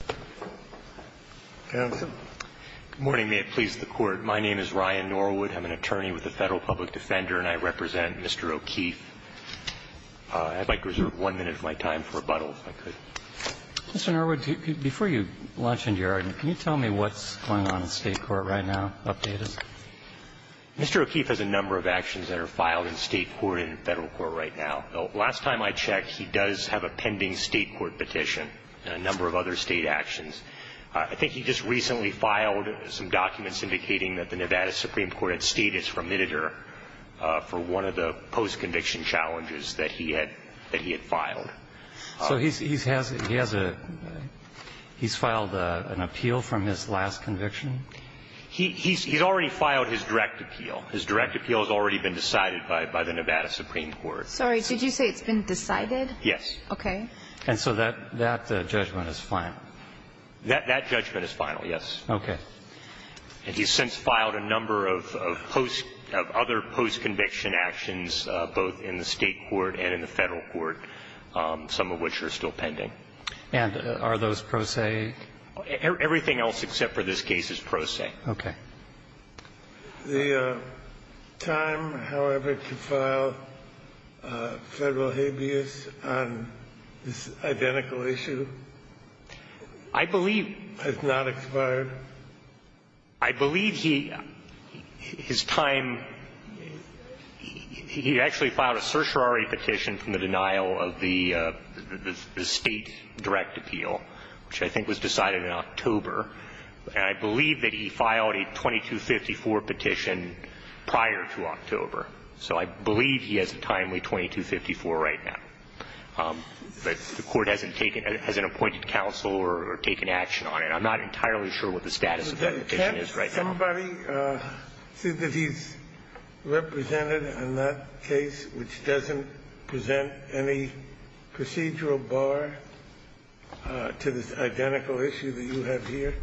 Mr. Norwood, before you launch into your argument, can you tell me what's going on in state court right now, update us? Mr. O'Keefe has a number of actions that are filed in state court and in federal court right now. Last time I checked, he does have a pending state court petition and a number of other state actions that are filed in federal court right now. I think he just recently filed some documents indicating that the Nevada Supreme Court had stayed its remitter for one of the post-conviction challenges that he had filed. So he's filed an appeal from his last conviction? He's already filed his direct appeal. His direct appeal has already been decided by the Nevada Supreme Court. Sorry, did you say it's been decided? Yes. Okay. And so that judgment is final? That judgment is final, yes. Okay. And he's since filed a number of other post-conviction actions, both in the state court and in the federal court, some of which are still pending. And are those pro se? Everything else except for this case is pro se. Okay. The time, however, to file federal habeas on this identical issue has not expired? I believe he – his time – he actually filed a certiorari petition from the denial of the state direct appeal, which I think was decided in October. And I believe that he filed a 2254 petition prior to October. So I believe he has a timely 2254 right now. But the Court hasn't taken – hasn't appointed counsel or taken action on it. I'm not entirely sure what the status of that petition is right now. Does anybody see that he's represented in that case, which doesn't present any procedural bar to this identical issue that you have here?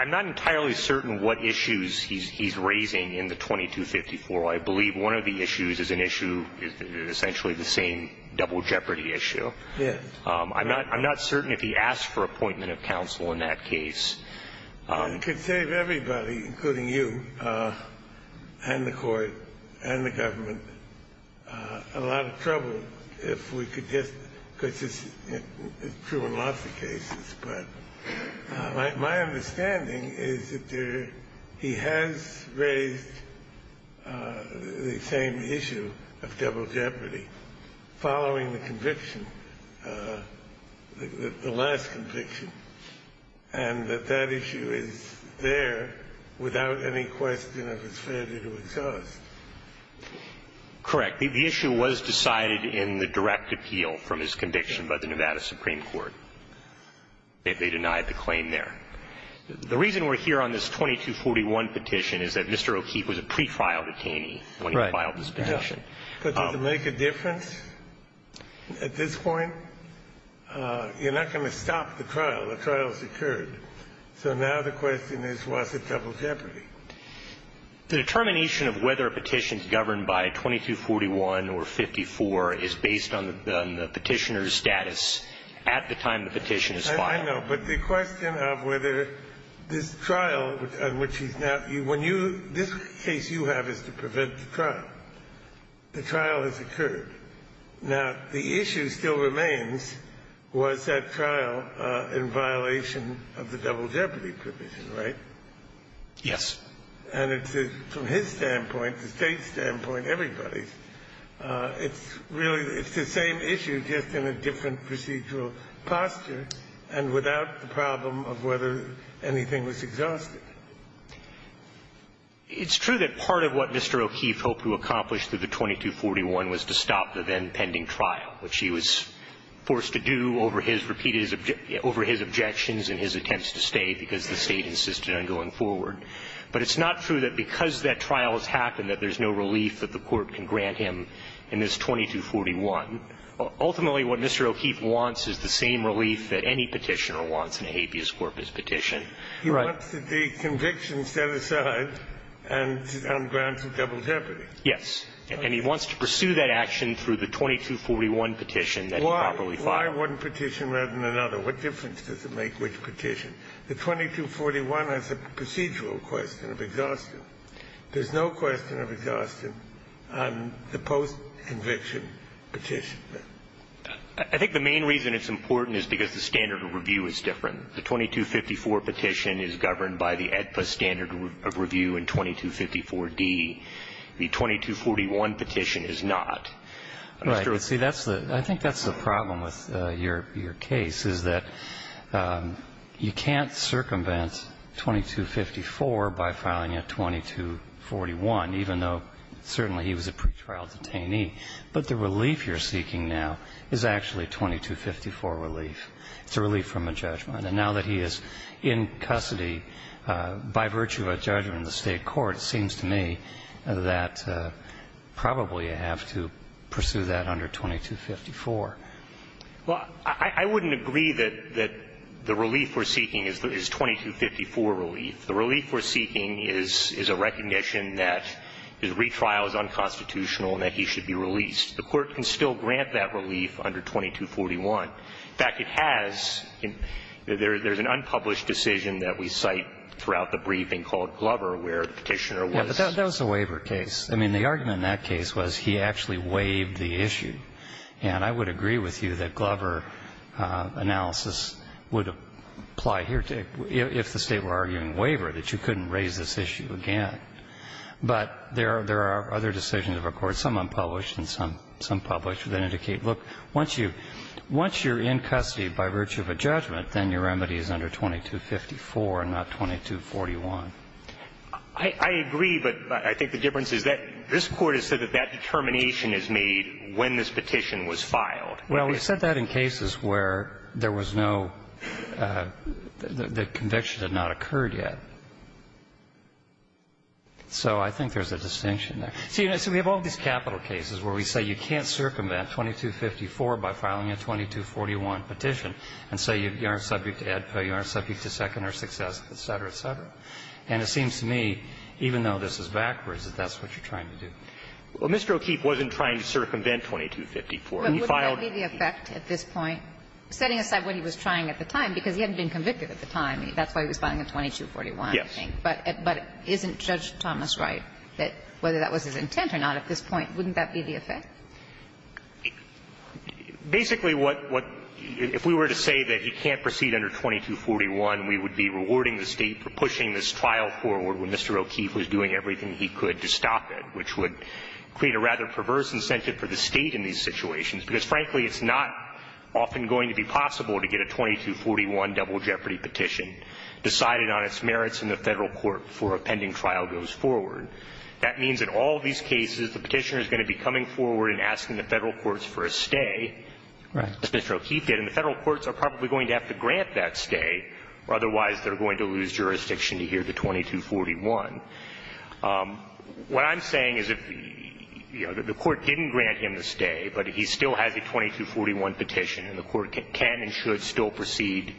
I'm not entirely certain what issues he's raising in the 2254. I believe one of the issues is an issue, essentially the same double jeopardy issue. Yes. I'm not – I'm not certain if he asked for appointment of counsel in that case. He could save everybody, including you and the Court and the government a lot of trouble if we could just – because it's true in lots of cases. But my understanding is that there – he has raised the same issue of double jeopardy following the conviction, the last conviction, and that that issue is there without any question of his failure to exhaust. Correct. The issue was decided in the direct appeal from his conviction by the Nevada Supreme Court. They denied the claim there. The reason we're here on this 2241 petition is that Mr. O'Keefe was a pre-trial detainee when he filed this petition. But does it make a difference at this point? You're not going to stop the trial. The trial's occurred. So now the question is, was it double jeopardy? The determination of whether a petition is governed by 2241 or 54 is based on the petitioner's status at the time the petition is filed. I know. But the question of whether this trial on which he's now – when you – this case you have is to prevent the trial. The trial has occurred. Now, the issue still remains, was that trial in violation of the double jeopardy provision, right? Yes. And it's a – from his standpoint, the State's standpoint, everybody's, it's really – it's the same issue, just in a different procedural posture and without the problem of whether anything was exhausted. It's true that part of what Mr. O'Keefe hoped to accomplish through the 2241 was to stop the then pending trial, which he was forced to do over his repeated – over his objections and his attempts to stay because the State insisted on going forward. But it's not true that because that trial has happened that there's no relief that the Court can grant him in this 2241. Ultimately, what Mr. O'Keefe wants is the same relief that any petitioner wants in a habeas corpus petition. He wants the conviction set aside and granted double jeopardy. Yes. And he wants to pursue that action through the 2241 petition that he properly filed. Why one petition rather than another? What difference does it make which petition? The 2241 has a procedural question of exhaustion. There's no question of exhaustion on the post-conviction petition. I think the main reason it's important is because the standard of review is different. The 2254 petition is governed by the AEDPA standard of review in 2254d. The 2241 petition is not. Right. See, that's the – I think that's the problem with your case is that you can't circumvent 2254 by filing a 2241, even though certainly he was a pretrial detainee. But the relief you're seeking now is actually 2254 relief. It's a relief from a judgment. And now that he is in custody by virtue of a judgment in the State court, it seems to me that probably you have to pursue that under 2254. Well, I wouldn't agree that the relief we're seeking is 2254 relief. The relief we're seeking is a recognition that his retrial is unconstitutional and that he should be released. The court can still grant that relief under 2241. In fact, it has. There's an unpublished decision that we cite throughout the briefing called Glover, where the Petitioner was – Yeah, but that was a waiver case. I mean, the argument in that case was he actually waived the issue. And I would agree with you that Glover analysis would apply here, if the State were arguing waiver, that you couldn't raise this issue again. But there are other decisions of a court, some unpublished and some published, that indicate, look, once you're in custody by virtue of a judgment, then your remedy is under 2254 and not 2241. I agree, but I think the difference is that this Court has said that that determination is made when this petition was filed. Well, we said that in cases where there was no – the conviction had not occurred So I think there's a distinction there. So we have all these capital cases where we say you can't circumvent 2254 by filing a 2241 petition, and say you aren't subject to Edpa, you aren't subject to seconder success, et cetera, et cetera. And it seems to me, even though this is backwards, that that's what you're trying to do. Well, Mr. O'Keefe wasn't trying to circumvent 2254. He filed – But wouldn't that be the effect at this point, setting aside what he was trying at the time, because he hadn't been convicted at the time. That's why he was filing a 2241, I think. But isn't Judge Thomas right that whether that was his intent or not at this point, wouldn't that be the effect? Basically, what – if we were to say that he can't proceed under 2241, we would be rewarding the State for pushing this trial forward when Mr. O'Keefe was doing everything he could to stop it, which would create a rather perverse incentive for the State in these situations, because, frankly, it's not often going to be possible to get a 2241 double jeopardy petition decided on its merits in the Federal court before a pending trial goes forward. That means in all of these cases, the Petitioner is going to be coming forward and asking the Federal courts for a stay, as Mr. O'Keefe did, and the Federal courts are probably going to have to grant that stay, or otherwise they're going to lose jurisdiction to hear the 2241. What I'm saying is if, you know, the Court didn't grant him the stay, but he still has a 2241 petition, and the Court can and should still proceed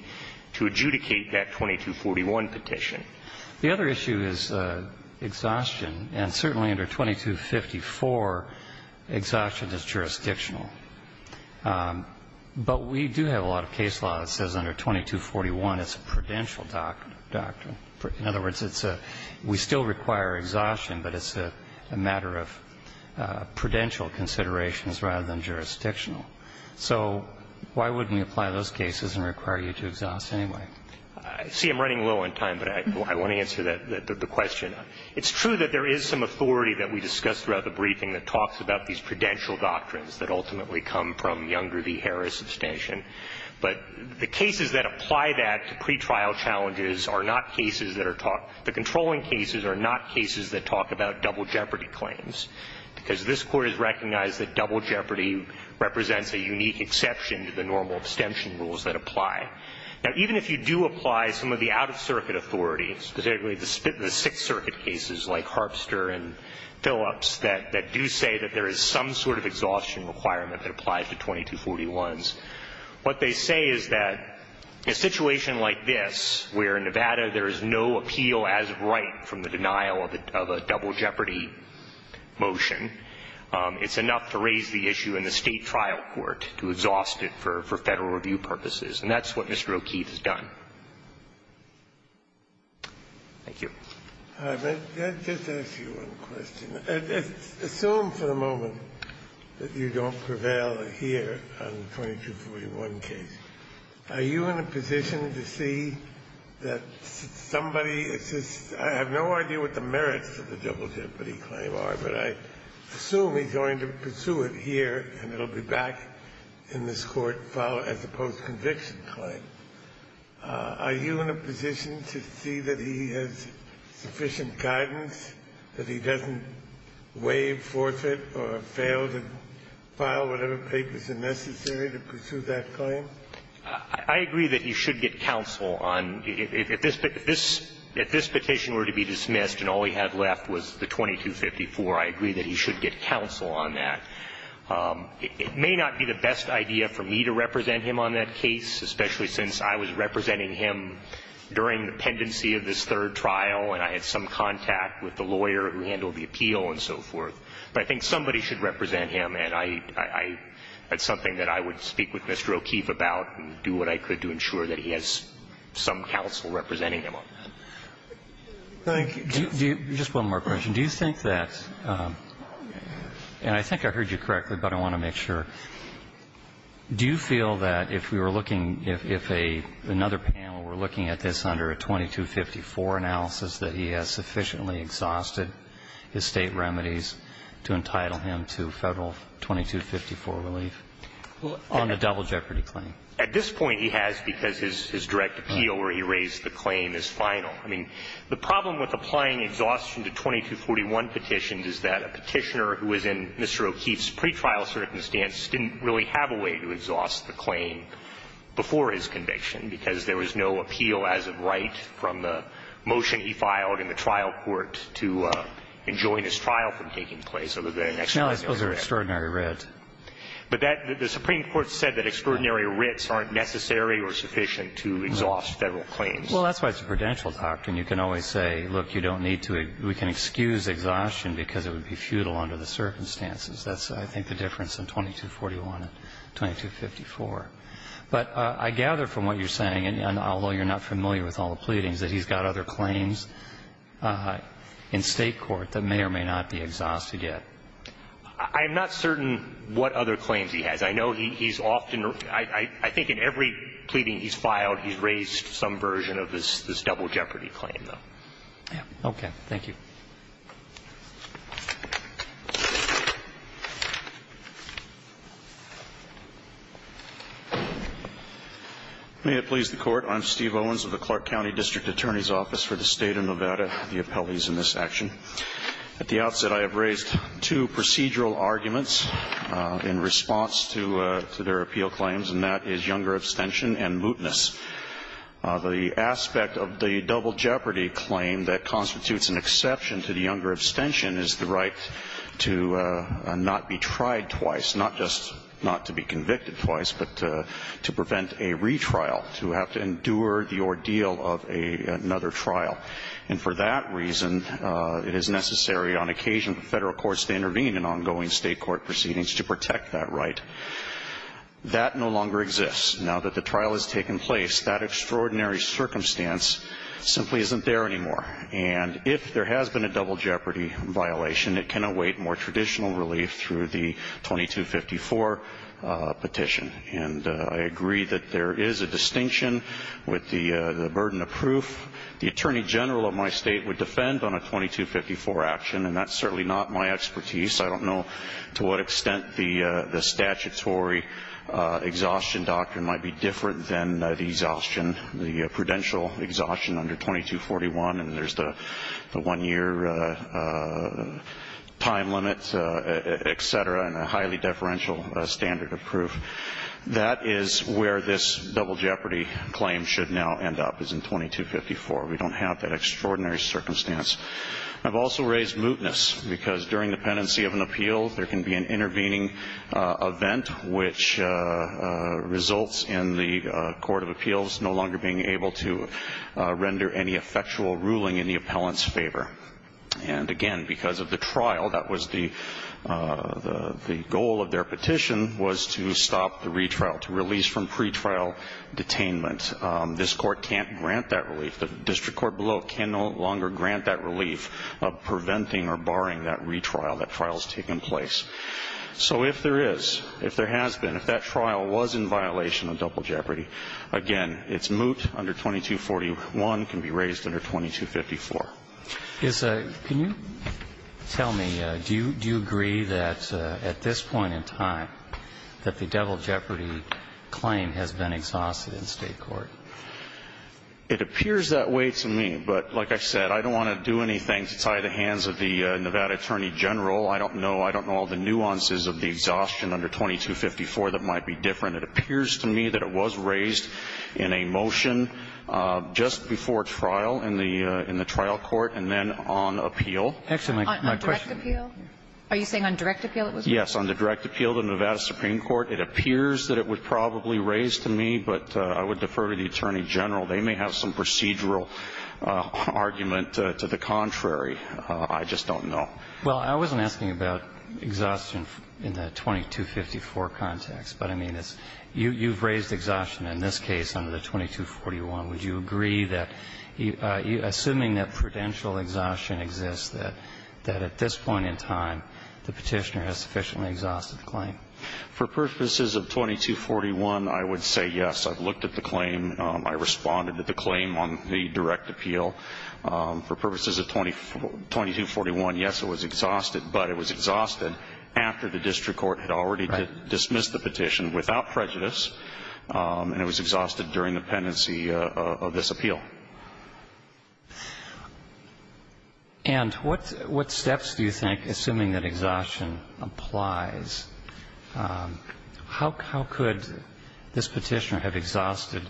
to adjudicate that 2241 petition. The other issue is exhaustion, and certainly under 2254, exhaustion is jurisdictional. But we do have a lot of case law that says under 2241 it's a prudential doctrine. In other words, it's a – we still require exhaustion, but it's a matter of prudential considerations rather than jurisdictional. So why wouldn't we apply those cases and require you to exhaust anyway? I see I'm running low on time, but I want to answer the question. It's true that there is some authority that we discussed throughout the briefing that talks about these prudential doctrines that ultimately come from Young v. Harris abstention, but the cases that apply that to pretrial challenges are not cases that are talked – the controlling cases are not cases that talk about double jeopardy claims. Because this Court has recognized that double jeopardy represents a unique exception to the normal abstention rules that apply. Now, even if you do apply some of the out-of-circuit authority, specifically the Sixth Circuit cases like Harpster and Phillips, that do say that there is some sort of exhaustion requirement that applies to 2241s, what they say is that a situation like this, where in Nevada there is no appeal as of right from the denial of a double jeopardy motion, it's enough to raise the issue in the State trial court to exhaust it for Federal review purposes. And that's what Mr. O'Keefe has done. Thank you. Just to ask you one question. Assume for the moment that you don't prevail here on the 2241 case, are you in a position to see that somebody is just – I have no idea what the merits of the double jeopardy claim are, but I assume he's going to pursue it here and it will be back in this Court as a post-conviction claim. Are you in a position to see that he has sufficient guidance, that he doesn't waive, forfeit, or fail to file whatever papers are necessary to pursue that claim? I agree that he should get counsel on – if this petition were to be dismissed and all he had left was the 2254, I agree that he should get counsel on that. It may not be the best idea for me to represent him on that case, especially since I was representing him during the pendency of this third trial and I had some contact with the lawyer who handled the appeal and so forth. But I think somebody should represent him and I – that's something that I would speak with Mr. O'Keefe about and do what I could to ensure that he has some counsel representing him on that. Thank you. Just one more question. Do you think that – and I think I heard you correctly, but I want to make sure. Do you feel that if we were looking – if another panel were looking at this under a 2254 analysis, that he has sufficiently exhausted his State remedies to entitle him to Federal 2254 relief on a double jeopardy claim? At this point, he has because his direct appeal where he raised the claim is final. I mean, the problem with applying exhaustion to 2241 petitions is that a petitioner who was in Mr. O'Keefe's pretrial circumstance didn't really have a way to exhaust the claim before his conviction because there was no appeal as of right from the motion he filed in the trial court to enjoin his trial from taking place other than an extraordinary writ. No, those are extraordinary writs. But that – the Supreme Court said that extraordinary writs aren't necessary or sufficient to exhaust Federal claims. Well, that's why it's a prudential doctrine. You can always say, look, you don't need to – we can excuse exhaustion because it would be futile under the circumstances. That's, I think, the difference in 2241 and 2254. But I gather from what you're saying, and although you're not familiar with all the pleadings, that he's got other claims in State court that may or may not be exhausted yet. I'm not certain what other claims he has. I know he's often – I think in every pleading he's filed, he's raised some version of this double jeopardy claim, though. Okay. Thank you. May it please the Court. I'm Steve Owens of the Clark County District Attorney's Office for the State of Nevada, the appellees in this action. At the outset, I have raised two procedural arguments in response to their appeal claims, and that is younger abstention and mootness. The aspect of the double jeopardy claim that constitutes an exception to the younger abstention is the right to not be tried twice, not just not to be convicted twice, but to prevent a retrial, to have to endure the ordeal of another trial. And for that reason, it is necessary on occasion for Federal courts to intervene in ongoing State court proceedings to protect that right. That no longer exists. Now that the trial has taken place, that extraordinary circumstance simply isn't there anymore. And if there has been a double jeopardy violation, it can await more traditional relief through the 2254 petition. And I agree that there is a distinction with the burden of proof. The Attorney General of my State would defend on a 2254 action, and that's certainly not my expertise. I don't know to what extent the statutory exhaustion doctrine might be different than the exhaustion, the prudential exhaustion under 2241, and there's the one-year time limit, et cetera, and a highly deferential standard of proof. That is where this double jeopardy claim should now end up, is in 2254. We don't have that extraordinary circumstance. I've also raised mootness because during the pendency of an appeal, there can be an intervening event which results in the Court of Appeals no longer being able to render any effectual ruling in the appellant's favor. And, again, because of the trial, that was the goal of their petition was to stop the retrial, to release from pretrial detainment. This Court can't grant that relief. The district court below can no longer grant that relief of preventing or barring that retrial, that trial's taken place. So if there is, if there has been, if that trial was in violation of double jeopardy, again, it's moot under 2241, can be raised under 2254. Can you tell me, do you agree that at this point in time that the double jeopardy claim has been exhausted in State court? It appears that way to me. But, like I said, I don't want to do anything to tie the hands of the Nevada Attorney General. I don't know. I don't know all the nuances of the exhaustion under 2254 that might be different. It appears to me that it was raised in a motion just before trial in the trial court and then on appeal. On direct appeal? Are you saying on direct appeal it was raised? Yes, on the direct appeal to Nevada Supreme Court. It appears that it was probably raised to me. But I would defer to the Attorney General. They may have some procedural argument to the contrary. I just don't know. Well, I wasn't asking about exhaustion in the 2254 context. But, I mean, you've raised exhaustion in this case under the 2241. Would you agree that, assuming that prudential exhaustion exists, that at this point in time the petitioner has sufficiently exhausted the claim? For purposes of 2241, I would say yes. I've looked at the claim. I responded to the claim on the direct appeal. For purposes of 2241, yes, it was exhausted. But it was exhausted after the district court had already dismissed the petition without prejudice. And it was exhausted during the pendency of this appeal. And what steps do you think, assuming that exhaustion applies, how could this petitioner have exhausted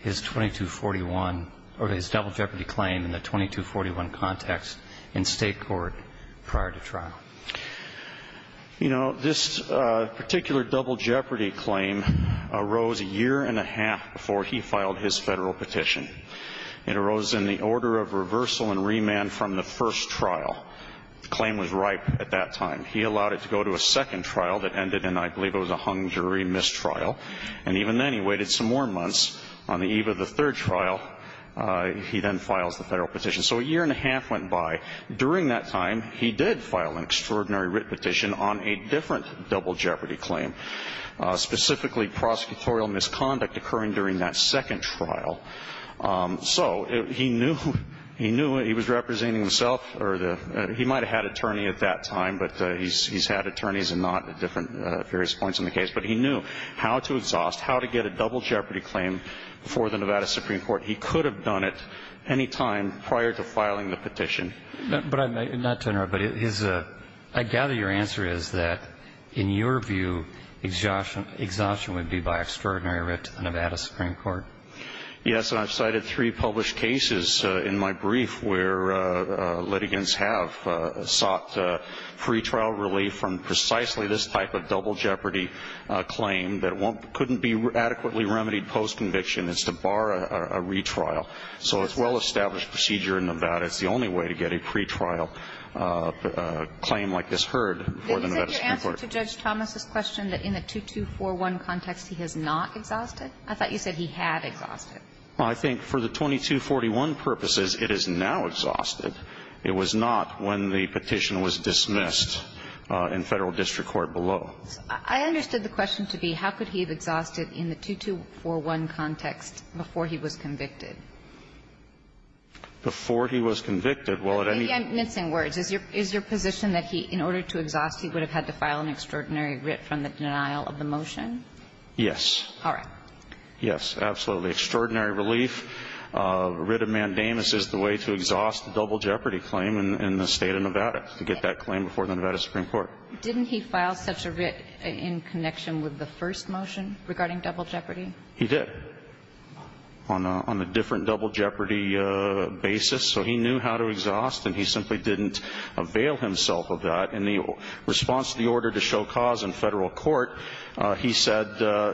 his 2241 or his double jeopardy claim in the 2241 context in State court prior to trial? You know, this particular double jeopardy claim arose a year and a half before he filed his Federal petition. It arose in the order of reversal and remand from the first trial. The claim was ripe at that time. He allowed it to go to a second trial that ended in, I believe it was a hung jury mistrial. And even then, he waited some more months. On the eve of the third trial, he then files the Federal petition. So a year and a half went by. During that time, he did file an extraordinary writ petition on a different double jeopardy claim, specifically prosecutorial misconduct occurring during that second trial. So he knew he was representing himself. He might have had an attorney at that time, but he's had attorneys and not at different various points in the case. But he knew how to exhaust, how to get a double jeopardy claim for the Nevada Supreme Court. He could have done it any time prior to filing the petition. But I may not turn around, but I gather your answer is that, in your view, exhaustion would be by extraordinary writ to the Nevada Supreme Court. Yes. And I've cited three published cases in my brief where litigants have sought free trial relief from precisely this type of double jeopardy claim that couldn't be adequately remedied post-conviction. It's to bar a retrial. So it's a well-established procedure in Nevada. It's the only way to get a pretrial claim like this heard for the Nevada Supreme Court. Did you say in your answer to Judge Thomas' question that in the 2241 context he has not exhausted? I thought you said he had exhausted. Well, I think for the 2241 purposes, it is now exhausted. It was not when the petition was dismissed in Federal district court below. I understood the question to be how could he have exhausted in the 2241 context before he was convicted. Before he was convicted, well, at any time. Maybe I'm missing words. Is your position that he, in order to exhaust, he would have had to file an extraordinary writ from the denial of the motion? Yes. All right. Yes, absolutely. Extraordinary relief. A writ of mandamus is the way to exhaust a double jeopardy claim in the State of Nevada to get that claim before the Nevada Supreme Court. Didn't he file such a writ in connection with the first motion regarding double jeopardy? He did, on a different double jeopardy basis. So he knew how to exhaust, and he simply didn't avail himself of that. In the response to the order to show cause in Federal court, he said,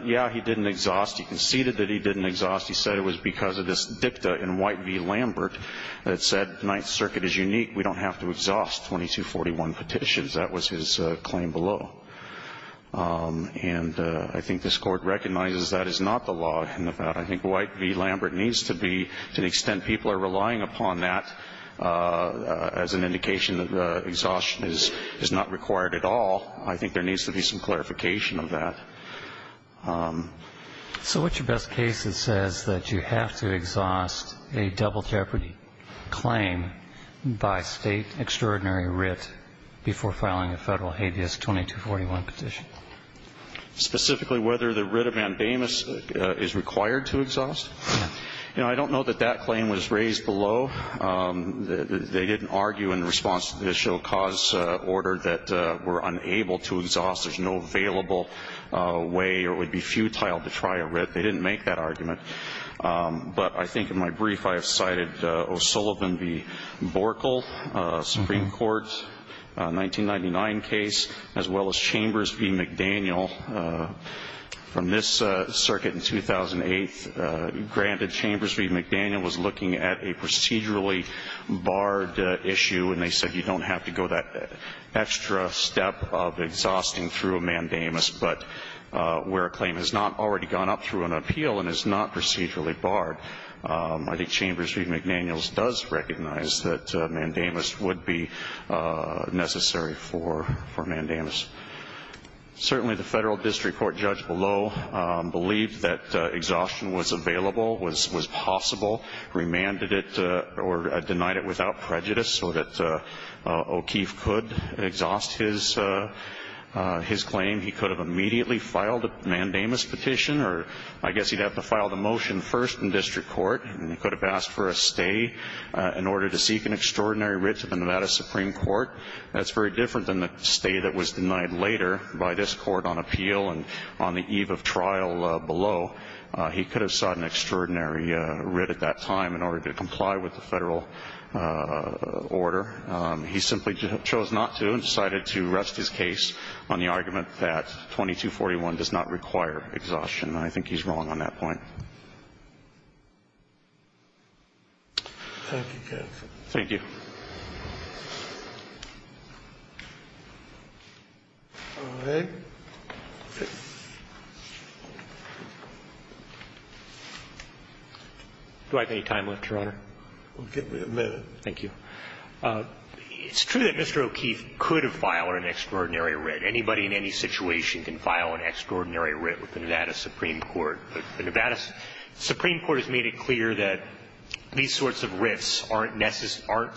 yeah, he didn't exhaust. He conceded that he didn't exhaust. He said it was because of this dicta in White v. Lambert that said Ninth Circuit is unique. We don't have to exhaust 2241 petitions. That was his claim below. And I think this Court recognizes that is not the law in Nevada. I think White v. Lambert needs to be, to the extent people are relying upon that as an indication that exhaustion is not required at all, I think there needs to be some clarification of that. So what's your best case that says that you have to exhaust a double jeopardy claim by State extraordinary writ before filing a Federal habeas 2241 petition? Specifically whether the writ of mandamus is required to exhaust? Yeah. You know, I don't know that that claim was raised below. They didn't argue in response to the show cause order that we're unable to exhaust. There's no available way or it would be futile to try a writ. They didn't make that argument. But I think in my brief I have cited O'Sullivan v. Borkel, Supreme Court, 1999 case, as well as Chambers v. McDaniel. From this circuit in 2008, granted Chambers v. McDaniel was looking at a procedurally barred issue and they said you don't have to go that extra step of exhausting through a mandamus, but where a claim has not already gone up through an appeal and is not procedurally barred, I think Chambers v. McDaniel does recognize that mandamus would be necessary for mandamus. Certainly the Federal District Court judge below believed that exhaustion was available, was possible, remanded it or denied it without prejudice so that O'Keefe could exhaust his claim. He could have immediately filed a mandamus petition or I guess he'd have to file the motion first in District Court. He could have asked for a stay in order to seek an extraordinary writ to the Nevada Supreme Court. That's very different than the stay that was denied later by this court on appeal and on the eve of trial below. He could have sought an extraordinary writ at that time in order to comply with the Federal order. He simply chose not to and decided to rest his case on the argument that 2241 does not require exhaustion. I think he's wrong on that point. Thank you, counsel. Thank you. Do I have any time left, Your Honor? We'll give you a minute. Thank you. It's true that Mr. O'Keefe could have filed an extraordinary writ. Anybody in any situation can file an extraordinary writ with the Nevada Supreme Court. The Nevada Supreme Court has made it clear that these sorts of writs aren't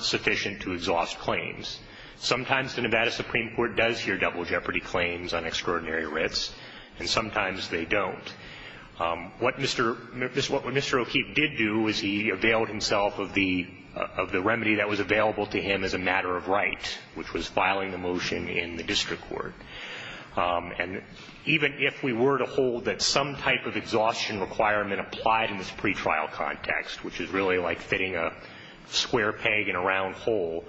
sufficient to exhaust claims. Sometimes the Nevada Supreme Court does hear double jeopardy claims on extraordinary writs, and sometimes they don't. What Mr. O'Keefe did do is he availed himself of the remedy that was available to him as a matter of right, which was filing a motion in the District Court. And even if we were to hold that some type of exhaustion requirement applied in this pretrial context, which is really like fitting a square peg in a round hole,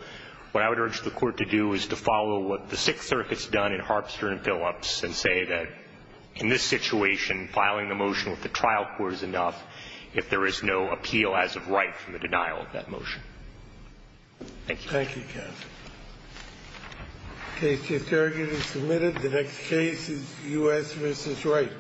what I would urge the Court to do is to follow what the Sixth Circuit's done in Harpster and Phillips and say that in this situation, filing the motion with the trial court is enough if there is no appeal as of right from the denial of that motion. Thank you. Thank you, counsel. The case is currently submitted. The next case is U.S. v. Wright.